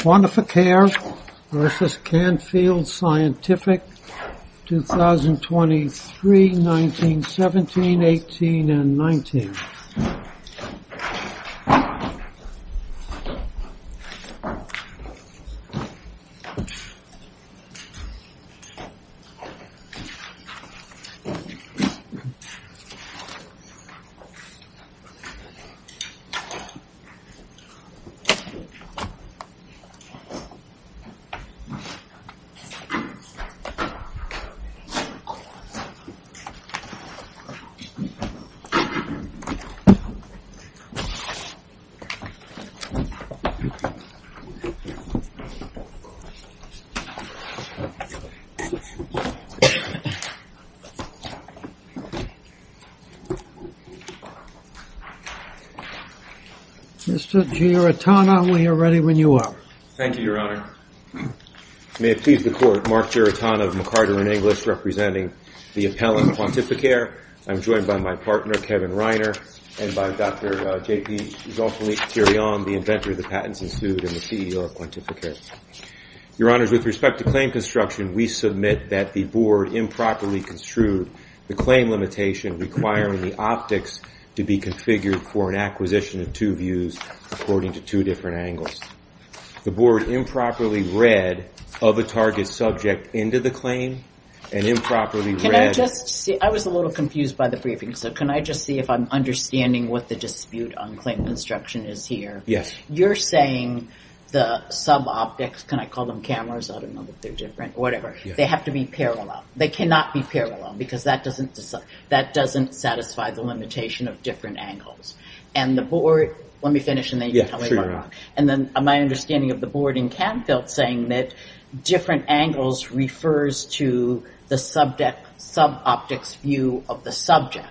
2023, 1917, 18, and 19. Mr. Giarratana, we are ready when you are. Thank you, Your Honor. May it please the Court, Mark Giarratana of McCarter & English representing the appellant, QuantifiCare. I'm joined by my partner, Kevin Reiner, and by Dr. J.P. Zolfanik-Tirion, the inventor of the patents institute and the CEO of QuantifiCare. Your Honors, with respect to claim construction, we submit that the Board improperly construed the claim limitation requiring the optics to be configured for an acquisition of two views according to two different angles. The Board improperly read of a target subject into the claim and improperly read... Can I just see, I was a little confused by the briefing, so can I just see if I'm understanding what the dispute on claim construction is here? Yes. You're saying the sub-optics, can I call them cameras, I don't know if they're different, whatever, they have to be parallel. They cannot be parallel because that doesn't satisfy the limitation of different angles. And the Board, let me finish and then you can tell me more about it. And then my understanding of the Board in Canfield saying that different angles refers to the sub-optics view of the subject,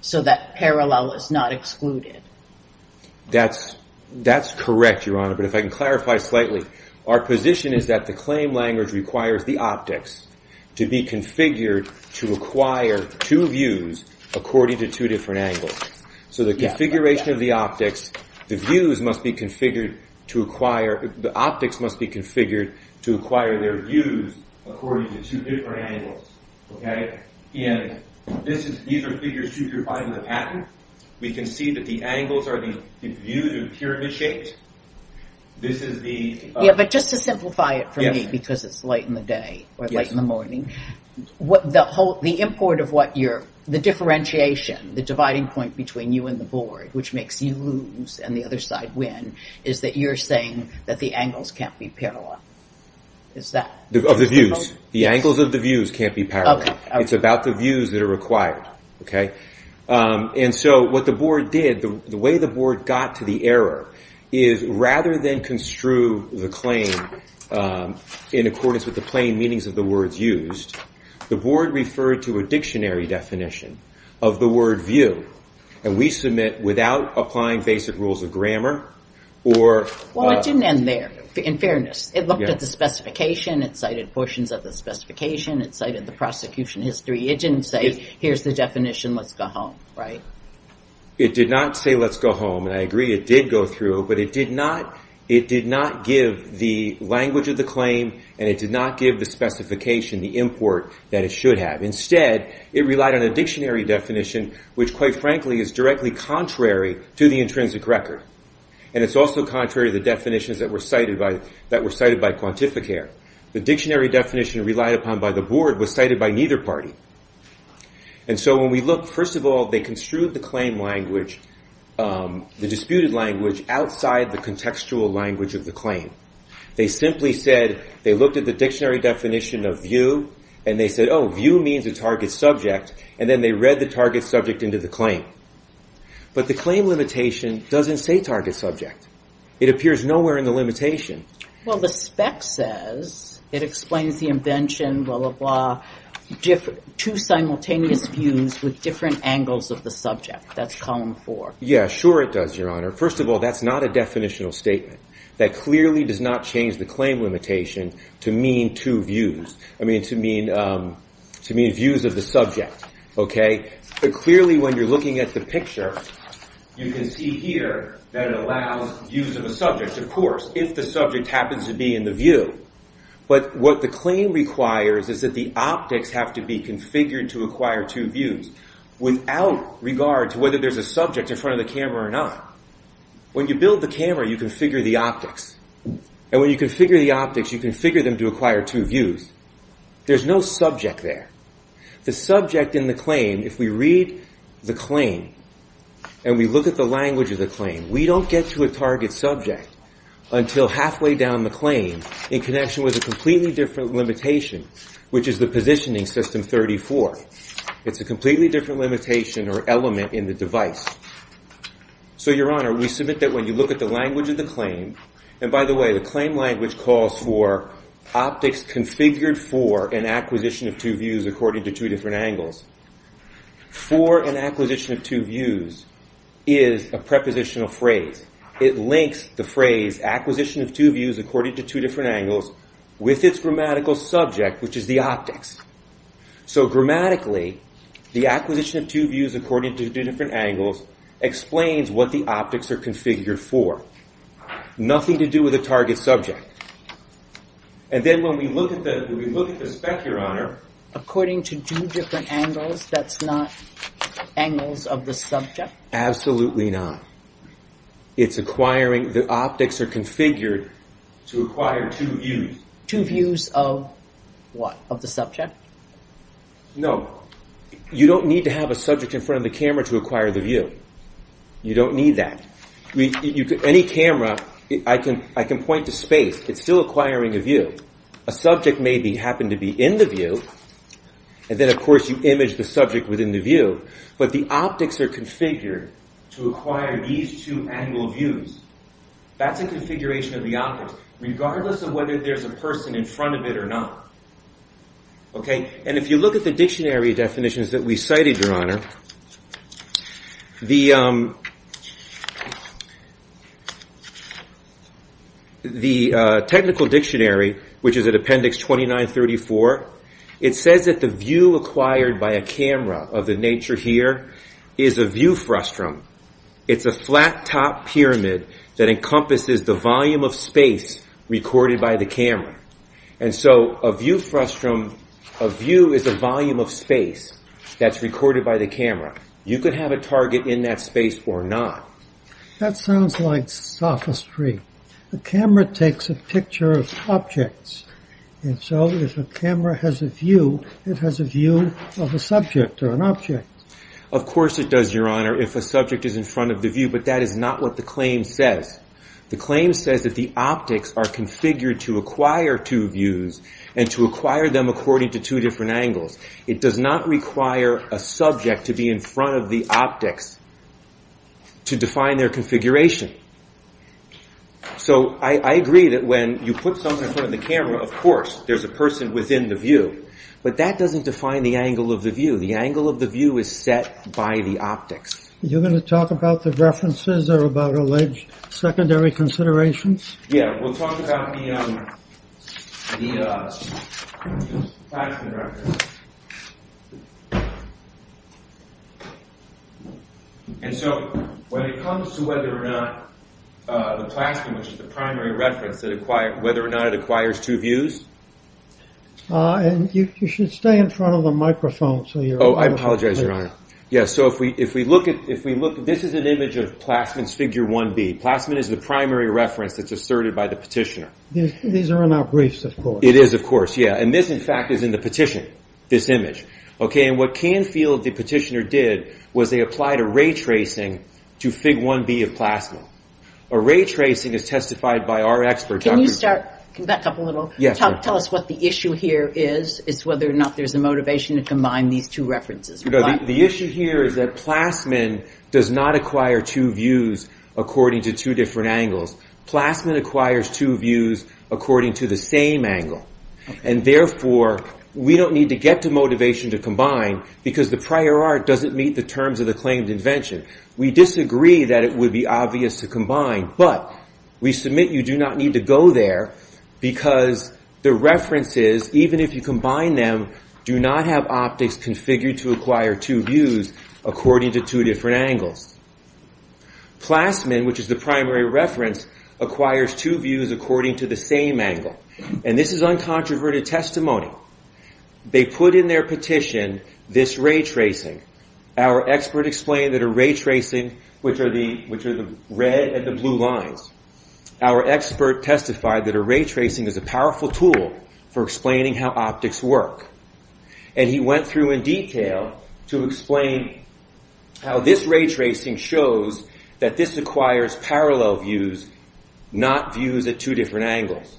so that parallel is not excluded. That's correct, Your Honor, but if I can clarify slightly. Our position is that the claim language requires the optics to be configured to acquire two views according to two different angles. So the configuration of the optics, the views must be configured to acquire, the optics must be configured to acquire their views according to two different angles. These are figures 2 through 5 in the patent. We can see that the angles are the views of pyramid shapes. Yeah, but just to simplify it for me because it's late in the day or late in the morning. The import of what you're, the differentiation, the dividing point between you and the Board, which makes you lose and the other side win, is that you're saying that the angles can't be parallel. Of the views. The angles of the views can't be parallel. It's about the views that are required. Okay. And so what the Board did, the way the Board got to the error, is rather than construe the claim in accordance with the plain meanings of the words used, the Board referred to a dictionary definition of the word view. And we submit without applying basic rules of grammar or... Well, it didn't end there, in fairness. It looked at the specification. It cited portions of the specification. It cited the prosecution history. It didn't say, here's the definition, let's go home, right? It did not say, let's go home. And I agree, it did go through, but it did not give the language of the claim and it did not give the specification, the import, that it should have. Instead, it relied on a dictionary definition, which quite frankly is directly contrary to the intrinsic record. And it's also contrary to the definitions that were cited by Quantificare. The dictionary definition relied upon by the Board was cited by neither party. And so when we look, first of all, they construed the claim language, the disputed language, outside the contextual language of the claim. They simply said, they looked at the dictionary definition of view and they said, oh, view means a target subject, and then they read the target subject into the claim. But the claim limitation doesn't say target subject. It appears nowhere in the limitation. Well, the spec says, it explains the invention, blah, blah, blah, two simultaneous views with different angles of the subject. That's column four. Yeah, sure it does, Your Honor. First of all, that's not a definitional statement. That clearly does not change the claim limitation to mean two views. I mean, to mean views of the subject, okay? But clearly when you're looking at the picture, you can see here that it allows views of the subject, of course, if the subject happens to be in the view. But what the claim requires is that the optics have to be configured to acquire two views without regard to whether there's a subject in front of the camera or not. When you build the camera, you configure the optics. And when you configure the optics, you configure them to acquire two views. There's no subject there. The subject in the claim, if we read the claim and we look at the language of the claim, we don't get to a target subject until halfway down the claim in connection with a completely different limitation, which is the positioning system 34. It's a completely different limitation or element in the device. So, Your Honor, we submit that when you look at the language of the claim, and by the way, the claim language calls for optics configured for an acquisition of two views according to two different angles. For an acquisition of two views is a prepositional phrase. It links the phrase acquisition of two views according to two different angles with its grammatical subject, which is the optics. So grammatically, the acquisition of two views according to two different angles explains what the optics are configured for. Nothing to do with a target subject. And then when we look at the spec, Your Honor. According to two different angles, that's not angles of the subject? Absolutely not. It's acquiring the optics are configured to acquire two views. Two views of what? Of the subject? No. You don't need to have a subject in front of the camera to acquire the view. You don't need that. Any camera, I can point to space. It's still acquiring a view. A subject may happen to be in the view. And then, of course, you image the subject within the view. But the optics are configured to acquire these two angle views. That's a configuration of the optics. Regardless of whether there's a person in front of it or not. And if you look at the dictionary definitions that we cited, Your Honor, the technical dictionary, which is at appendix 2934, it says that the view acquired by a camera of the nature here is a view frustum. It's a flat top pyramid that encompasses the volume of space recorded by the camera. And so a view frustum, a view is a volume of space that's recorded by the camera. You could have a target in that space or not. That sounds like sophistry. A camera takes a picture of objects. And so if a camera has a view, it has a view of a subject or an object. Of course it does, Your Honor, if a subject is in front of the view. But that is not what the claim says. The claim says that the optics are configured to acquire two views and to acquire them according to two different angles. It does not require a subject to be in front of the optics to define their configuration. So I agree that when you put something in front of the camera, of course there's a person within the view. But that doesn't define the angle of the view. The angle of the view is set by the optics. You're going to talk about the references or about alleged secondary considerations? Yeah, we'll talk about the Plasman record. And so when it comes to whether or not the Plasman, which is the primary reference, whether or not it acquires two views. You should stay in front of the microphone. Oh, I apologize, Your Honor. Yes, so if we look at, this is an image of Plasman's figure 1B. Plasman is the primary reference that's asserted by the petitioner. These are in our briefs, of course. It is, of course, yeah. And this, in fact, is in the petition, this image. Okay, and what Canfield, the petitioner, did was they applied a ray tracing to fig 1B of Plasman. A ray tracing is testified by our expert. Can you start, can you back up a little? Yes, Your Honor. Tell us what the issue here is, is whether or not there's a motivation to combine these two references. The issue here is that Plasman does not acquire two views according to two different angles. Plasman acquires two views according to the same angle. And therefore, we don't need to get to motivation to combine because the prior art doesn't meet the terms of the claimed invention. We disagree that it would be obvious to combine. But we submit you do not need to go there because the references, even if you combine them, do not have optics configured to acquire two views according to two different angles. Plasman, which is the primary reference, acquires two views according to the same angle. And this is uncontroverted testimony. They put in their petition this ray tracing. Our expert explained that a ray tracing, which are the red and the blue lines, our expert testified that a ray tracing is a powerful tool for explaining how optics work. And he went through in detail to explain how this ray tracing shows that this acquires parallel views, not views at two different angles.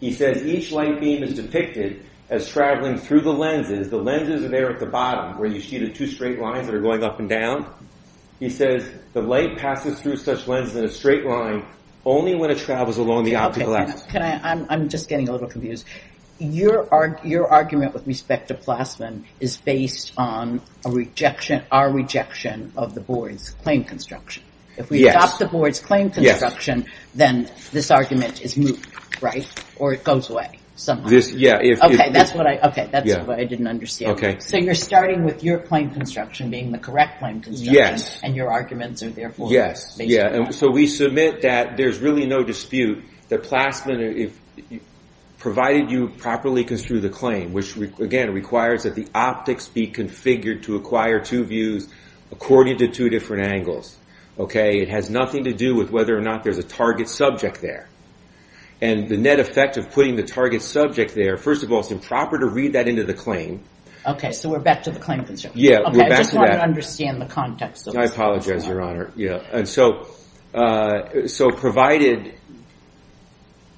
He says each light beam is depicted as traveling through the lenses, where you see the two straight lines that are going up and down. He says the light passes through such lenses in a straight line only when it travels along the optical axis. I'm just getting a little confused. Your argument with respect to Plasman is based on our rejection of the board's claim construction. If we adopt the board's claim construction, then this argument is moot, right? Or it goes away somehow. Okay, that's what I didn't understand. So you're starting with your claim construction being the correct claim construction, and your arguments are therefore based on that. So we submit that there's really no dispute that Plasman, provided you properly construe the claim, which, again, requires that the optics be configured to acquire two views according to two different angles. It has nothing to do with whether or not there's a target subject there. And the net effect of putting the target subject there, first of all, it's improper to read that into the claim. Okay, so we're back to the claim construction. Yeah, we're back to that. Okay, I just want to understand the context of this. I apologize, Your Honor. So provided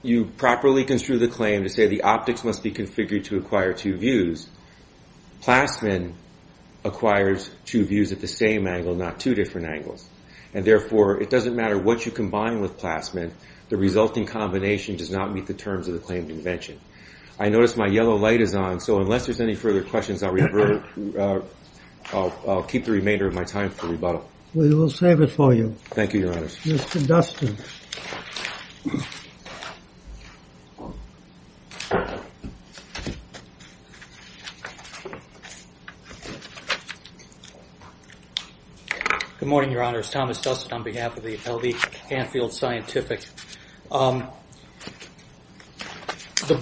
you properly construe the claim to say the optics must be configured to acquire two views, Plasman acquires two views at the same angle, not two different angles. And, therefore, it doesn't matter what you combine with Plasman. The resulting combination does not meet the terms of the claim convention. I notice my yellow light is on, so unless there's any further questions, I'll keep the remainder of my time for rebuttal. We will save it for you. Thank you, Your Honor. Mr. Dustin. Good morning, Your Honor. It's Thomas Dustin on behalf of the L.D. Hanfield Scientific. The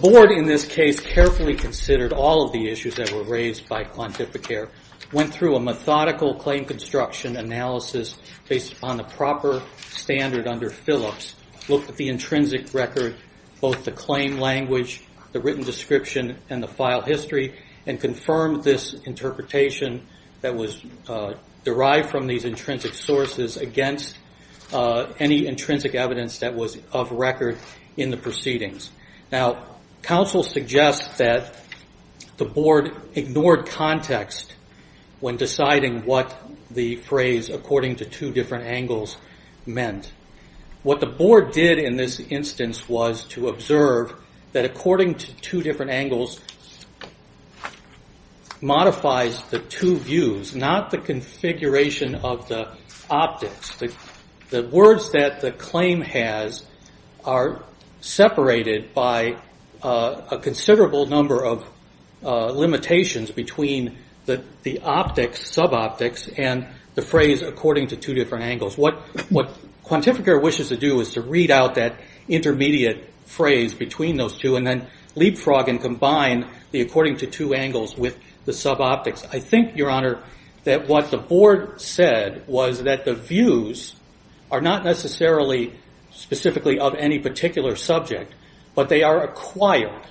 Board, in this case, carefully considered all of the issues that were raised by Clontificare, went through a methodical claim construction analysis based upon the proper standard under which the claim was constructed. looked at the intrinsic record, both the claim language, the written description, and the file history, and confirmed this interpretation that was derived from these intrinsic sources against any intrinsic evidence that was of record in the proceedings. Now, counsel suggests that the Board ignored context when deciding what the phrase according to two different angles meant. What the Board did in this instance was to observe that according to two different angles modifies the two views, not the configuration of the optics. The words that the claim has are separated by a considerable number of limitations between the optics, sub-optics, and the phrase according to two different angles. What Clontificare wishes to do is to read out that intermediate phrase between those two and then leapfrog and combine the according to two angles with the sub-optics. I think, Your Honor, that what the Board said was that the views are not necessarily specifically of any particular subject, but they are acquired.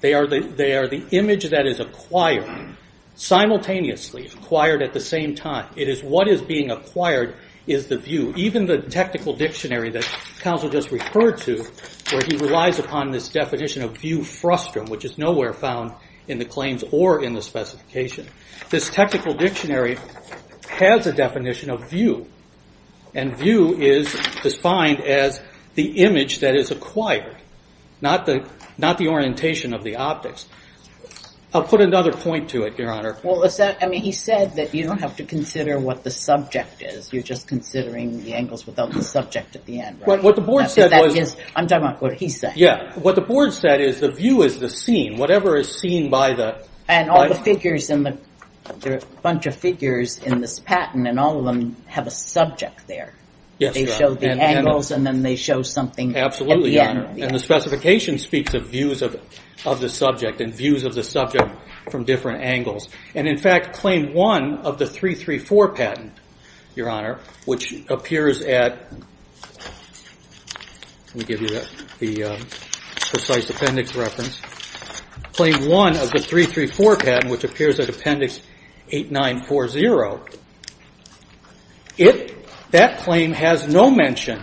They are the image that is acquired simultaneously, acquired at the same time. It is what is being acquired is the view. Even the technical dictionary that counsel just referred to, where he relies upon this definition of view frustum, which is nowhere found in the claims or in the specification. This technical dictionary has a definition of view, and view is defined as the image that is acquired, not the orientation of the optics. I'll put another point to it, Your Honor. Well, he said that you don't have to consider what the subject is. You're just considering the angles without the subject at the end, right? What the Board said was... I'm talking about what he said. Yeah, what the Board said is the view is the scene. Whatever is seen by the... And all the figures in the... There are a bunch of figures in this patent, and all of them have a subject there. Yes, Your Honor. They show the angles, and then they show something at the end. And the specification speaks of views of the subject and views of the subject from different angles. And, in fact, claim one of the 334 patent, Your Honor, which appears at... Let me give you the precise appendix reference. Claim one of the 334 patent, which appears at appendix 8940, that claim has no mention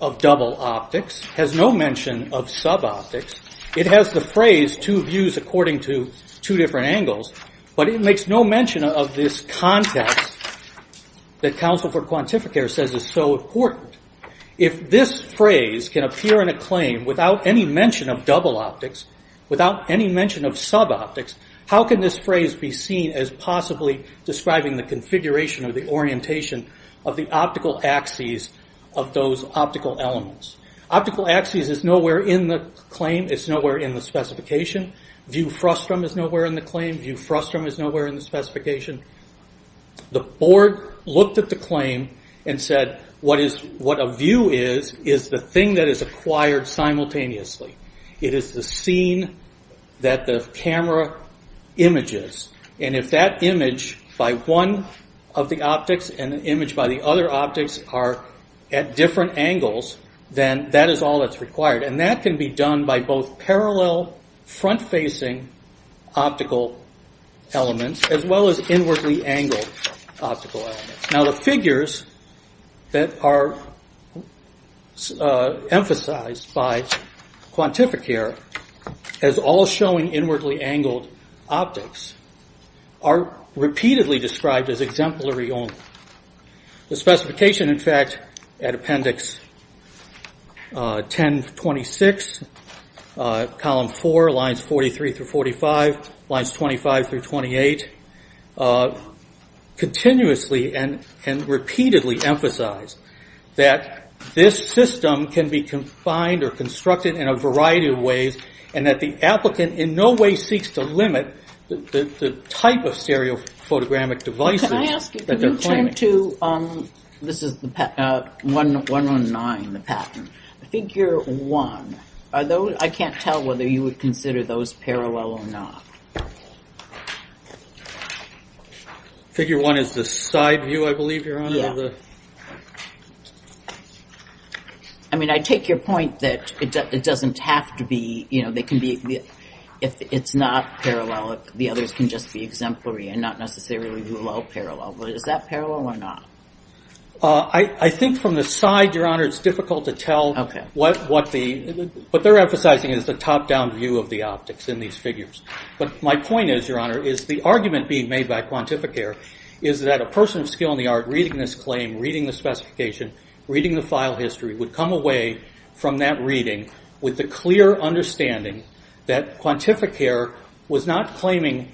of double optics, has no mention of sub-optics. It has the phrase two views according to two different angles, but it makes no mention of this context that counsel for quantificator says is so important. If this phrase can appear in a claim without any mention of double optics, without any mention of sub-optics, how can this phrase be seen as possibly describing the configuration or the orientation of the optical axes of those optical elements? Optical axes is nowhere in the claim. It's nowhere in the specification. View frustum is nowhere in the claim. View frustum is nowhere in the specification. The board looked at the claim and said what a view is is the thing that is acquired simultaneously. It is the scene that the camera images. And if that image by one of the optics and the image by the other optics are at different angles, then that is all that's required. And that can be done by both parallel front-facing optical elements as well as inwardly angled optical elements. Now the figures that are emphasized by quantificator as all showing inwardly angled optics are repeatedly described as exemplary only. The specification, in fact, at Appendix 1026, Column 4, Lines 43 through 45, Lines 25 through 28, continuously and repeatedly emphasize that this system can be confined or constructed in a variety of ways and that the applicant in no way seeks to limit the type of stereophotogramic devices that they're claiming. This is 119, the patent. Figure 1, I can't tell whether you would consider those parallel or not. Figure 1 is the side view, I believe, Your Honor. I mean, I take your point that it doesn't have to be, if it's not parallel, the others can just be exemplary and not necessarily be parallel. But is that parallel or not? I think from the side, Your Honor, it's difficult to tell what they're emphasizing is the top-down view of the optics in these figures. But my point is, Your Honor, is the argument being made by quantificator is that a person of skill in the art reading this claim, reading the specification, reading the file history, would come away from that reading with the clear understanding that quantificator was not claiming,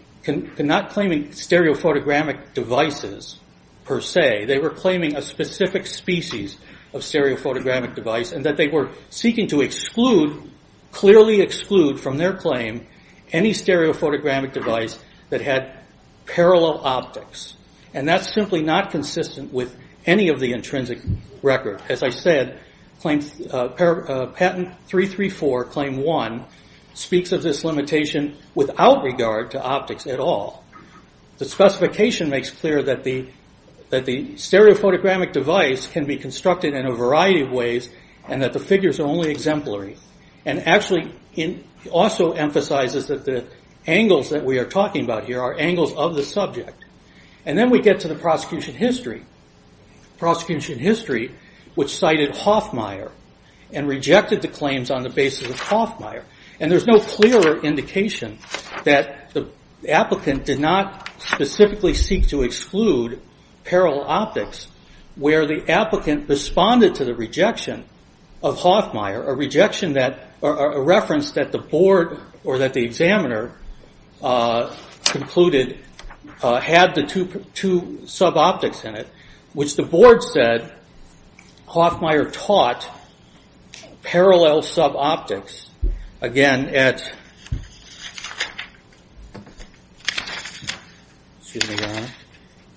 not claiming stereophotogramic devices per se. They were claiming a specific species of stereophotogramic device and that they were seeking to exclude, clearly exclude from their claim, any stereophotogramic device that had parallel optics. And that's simply not consistent with any of the intrinsic record. As I said, patent 334, claim 1, speaks of this limitation without regard to optics at all. The specification makes clear that the stereophotogramic device can be constructed in a variety of ways and that the figures are only exemplary. And actually, it also emphasizes that the angles that we are talking about here are angles of the subject. And then we get to the prosecution history. The prosecution history, which cited Hoffmeier and rejected the claims on the basis of Hoffmeier. And there's no clearer indication that the applicant did not specifically seek to exclude parallel optics where the applicant responded to the rejection of Hoffmeier, a rejection that, a reference that the board, or that the examiner concluded had the two sub-optics in it, which the board said Hoffmeier taught parallel sub-optics, again, at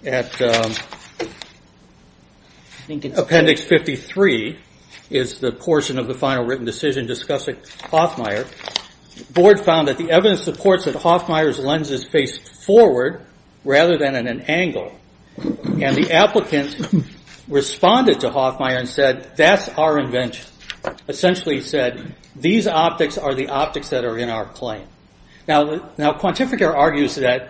appendix 53, is the portion of the final written decision discussing Hoffmeier. The board found that the evidence supports that Hoffmeier's lens is faced forward rather than at an angle. And the applicant responded to Hoffmeier and said, that's our invention. Essentially, he said, these optics are the optics that are in our claim. Now, Quantificare argues that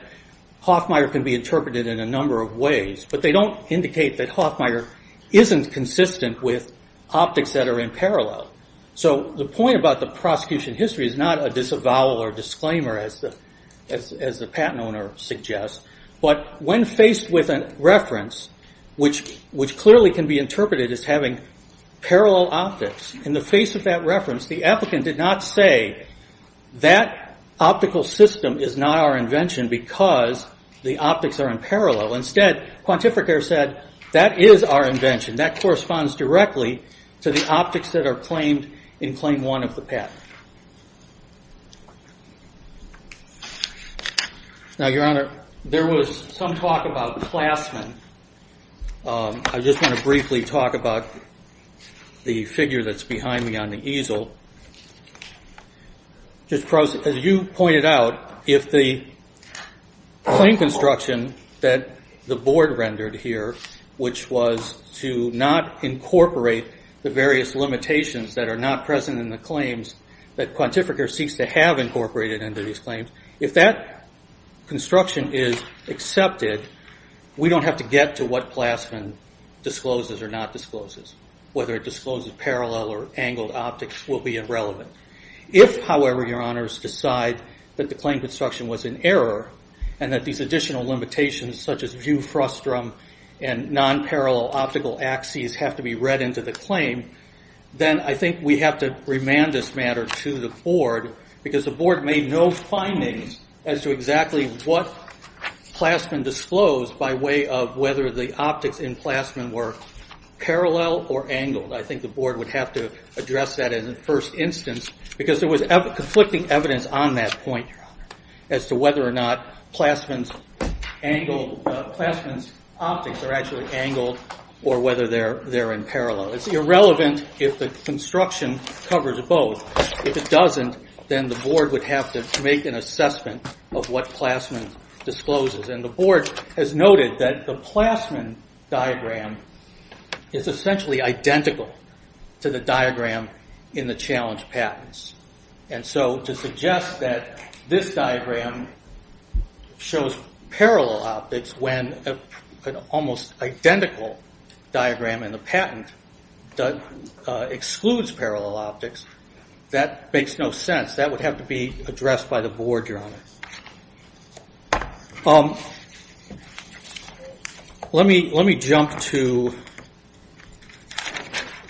Hoffmeier can be interpreted in a number of ways, but they don't indicate that Hoffmeier isn't consistent with optics that are in parallel. So the point about the prosecution history is not a disavowal or disclaimer, as the patent owner suggests, but when faced with a reference, which clearly can be interpreted as having parallel optics, in the face of that reference, the applicant did not say that optical system is not our invention because the optics are in parallel. Instead, Quantificare said, that is our invention. That corresponds directly to the optics that are claimed in claim one of the patent. Now, Your Honor, there was some talk about Plasman. I just want to briefly talk about the figure that's behind me on the easel. Just as you pointed out, if the claim construction that the board rendered here, which was to not incorporate the various limitations that are not present in the claims, that Quantificare seeks to have incorporated into these claims, if that construction is accepted, we don't have to get to what Plasman discloses or not discloses. Whether it discloses parallel or angled optics will be irrelevant. If, however, Your Honors, decide that the claim construction was an error, and that these additional limitations such as view frustum and non-parallel optical axes have to be read into the claim, then I think we have to remand this matter to the board because the board made no findings as to exactly what Plasman disclosed by way of whether the optics in Plasman were parallel or angled. I think the board would have to address that in the first instance because there was conflicting evidence on that point, Your Honor, as to whether or not Plasman's optics are actually angled or whether they're in parallel. It's irrelevant if the construction covers both. If it doesn't, then the board would have to make an assessment of what Plasman discloses. And the board has noted that the Plasman diagram is essentially identical to the diagram in the challenge patents. And so to suggest that this diagram shows parallel optics when an almost identical diagram in the patent excludes parallel optics, that makes no sense. That would have to be addressed by the board, Your Honor. Let me jump to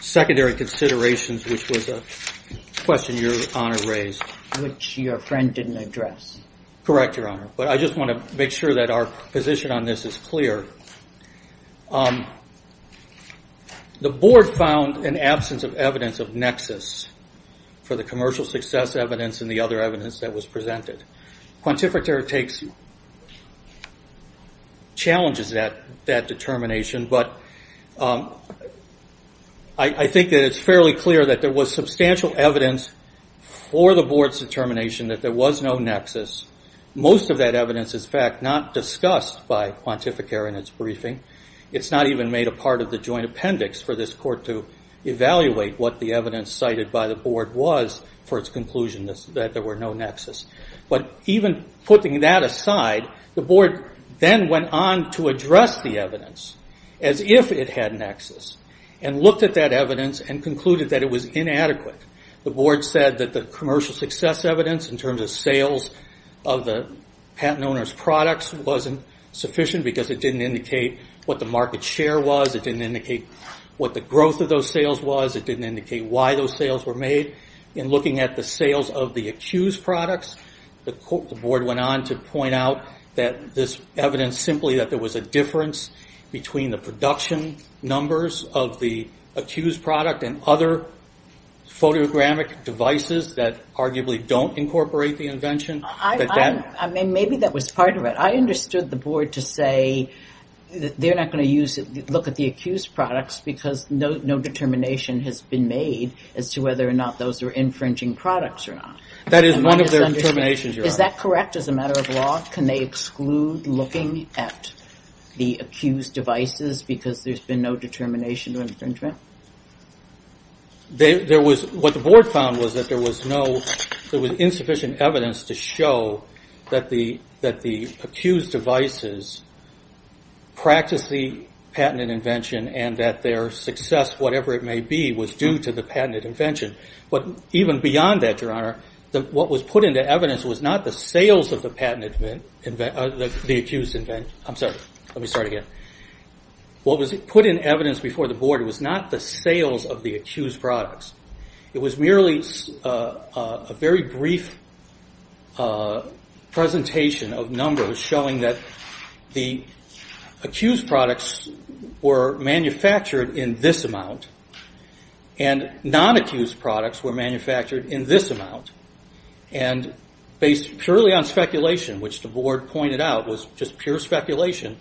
secondary considerations, which was a question Your Honor raised. Which your friend didn't address. Correct, Your Honor. But I just want to make sure that our position on this is clear. The board found an absence of evidence of nexus for the commercial success evidence and the other evidence that was presented. Quantificatory challenges that determination, but I think that it's fairly clear that there was substantial evidence for the board's determination that there was no nexus. Most of that evidence is, in fact, not discussed by Quantificare in its briefing. It's not even made a part of the joint appendix for this court to evaluate what the evidence cited by the board was for its conclusion that there were no nexus. But even putting that aside, the board then went on to address the evidence as if it had nexus and looked at that evidence and concluded that it was inadequate. The board said that the commercial success evidence in terms of sales of the patent owner's products wasn't sufficient because it didn't indicate what the market share was. It didn't indicate what the growth of those sales was. It didn't indicate why those sales were made. In looking at the sales of the accused products, the board went on to point out that this evidence simply that there was a difference between the production numbers of the accused product and other photographic devices that arguably don't incorporate the invention. Maybe that was part of it. I understood the board to say that they're not going to look at the accused products because no determination has been made as to whether or not those are infringing products or not. That is one of their determinations, Your Honor. Is that correct as a matter of law? Can they exclude looking at the accused devices because there's been no determination of infringement? What the board found was that there was insufficient evidence to show that the accused devices practiced the patented invention and that their success, whatever it may be, was due to the patented invention. But even beyond that, Your Honor, what was put into evidence was not the sales of the accused invention. I'm sorry. Let me start again. What was put in evidence before the board was not the sales of the accused products. It was merely a very brief presentation of numbers showing that the accused products were manufactured in this amount and non-accused products were manufactured in this amount. Based purely on speculation, which the board pointed out was just pure speculation,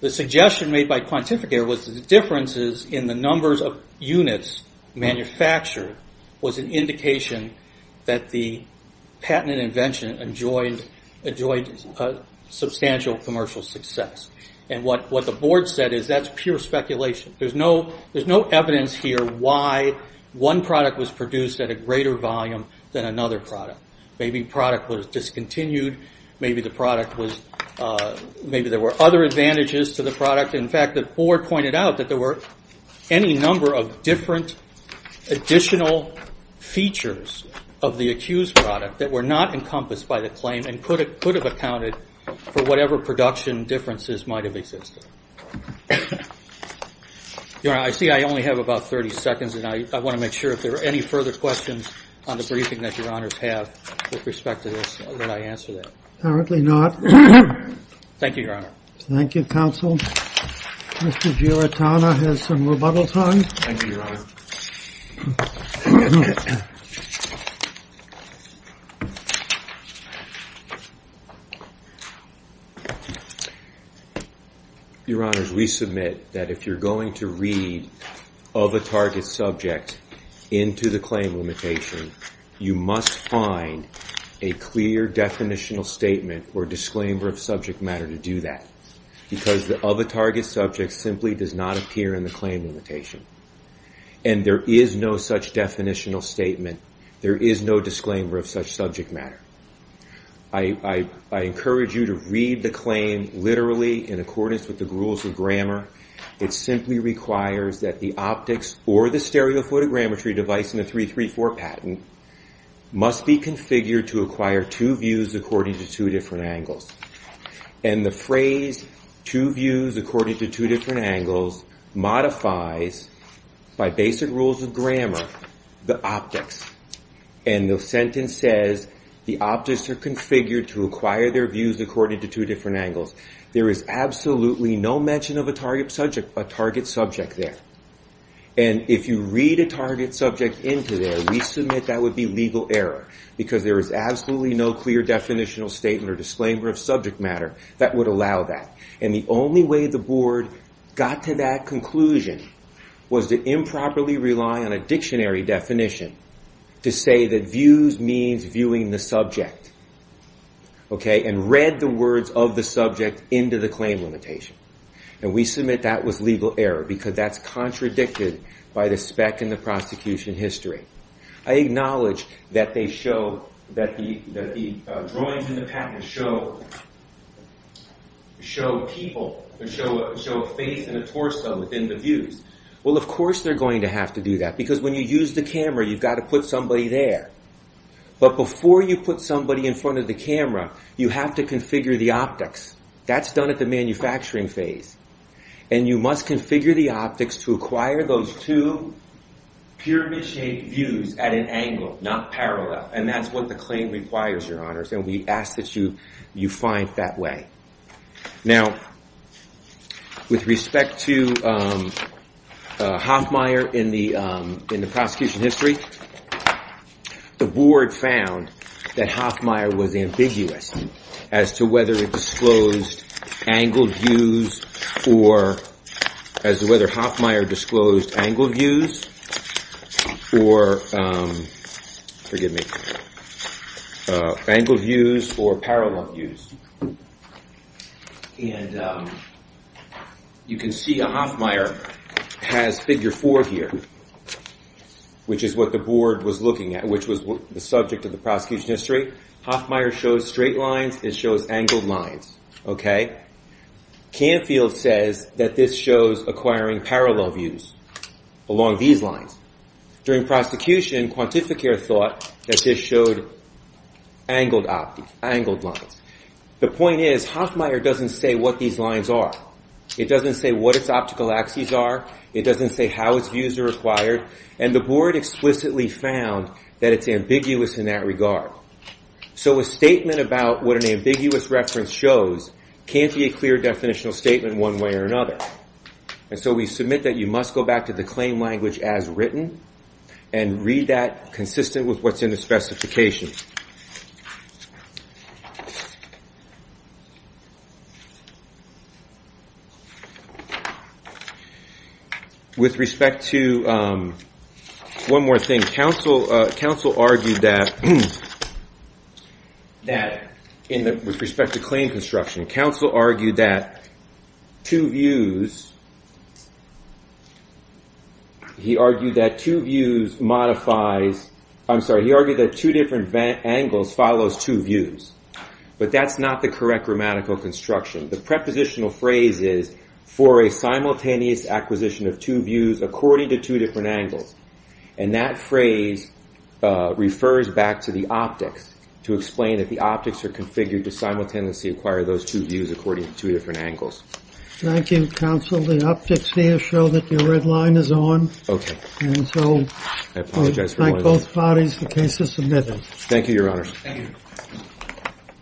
the suggestion made by Quantificator was that the differences in the numbers of units manufactured was an indication that the patented invention enjoyed substantial commercial success. What the board said is that's pure speculation. There's no evidence here why one product was produced at a greater volume than another product. Maybe the product was discontinued. Maybe there were other advantages to the product. In fact, the board pointed out that there were any number of different additional features of the accused product that were not encompassed by the claim and could have accounted for whatever production differences might have existed. Your Honor, I see I only have about 30 seconds, and I want to make sure if there are any further questions on the briefing that Your Honors have with respect to this that I answer that. Apparently not. Thank you, Your Honor. Thank you, Counsel. Mr. Giratana has some rebuttal time. Thank you, Your Honor. Your Honors, we submit that if you're going to read of a target subject into the claim limitation, you must find a clear definitional statement or disclaimer of subject matter to do that because the of a target subject simply does not appear in the claim limitation. And there is no such definitional statement. There is no disclaimer of such subject matter. I encourage you to read the claim literally in accordance with the rules of grammar. It simply requires that the optics or the stereophotogrammetry device in the 334 patent must be configured to acquire two views according to two different angles. And the phrase, two views according to two different angles, modifies, by basic rules of grammar, the optics. And the sentence says, the optics are configured to acquire their views according to two different angles. There is absolutely no mention of a target subject there. And if you read a target subject into there, we submit that would be legal error because there is absolutely no clear definitional statement or disclaimer of subject matter that would allow that. And the only way the board got to that conclusion was to improperly rely on a dictionary definition to say that views means viewing the subject. And read the words of the subject into the claim limitation. And we submit that was legal error because that's contradicted by the spec in the prosecution history. I acknowledge that the drawings in the patent show people, show a face and a torso within the views. Well, of course they're going to have to do that because when you use the camera, you've got to put somebody there. But before you put somebody in front of the camera, you have to configure the optics. That's done at the manufacturing phase. And you must configure the optics to acquire those two pyramid-shaped views at an angle, not parallel. And that's what the claim requires, Your Honors. And we ask that you find that way. Now, with respect to Hoffmeier in the prosecution history, the board found that Hoffmeier was ambiguous as to whether it disclosed angled views or as to whether Hoffmeier disclosed angled views or parallel views. And you can see Hoffmeier has figure four here, which is what the board was looking at, which was the subject of the prosecution history. Hoffmeier shows straight lines. It shows angled lines. Canfield says that this shows acquiring parallel views along these lines. During prosecution, Quantificare thought that this showed angled lines. The point is, Hoffmeier doesn't say what these lines are. It doesn't say what its optical axes are. It doesn't say how its views are acquired. And the board explicitly found that it's ambiguous in that regard. So a statement about what an ambiguous reference shows can't be a clear definitional statement one way or another. And so we submit that you must go back to the claim language as written and read that consistent with what's in the specification. With respect to – one more thing. Counsel argued that – with respect to claim construction. Counsel argued that two views – he argued that two views modifies – I'm sorry. He argued that two different angles follows two views. But that's not the correct grammatical construction. The prepositional phrase is for a simultaneous acquisition of two views according to two different angles. And that phrase refers back to the optics to explain that the optics are configured to simultaneously acquire those two views according to two different angles. Thank you, Counsel. The optics here show that your red line is on. Okay. And so we thank both parties. The case is submitted. Thank you, Your Honor. Thank you.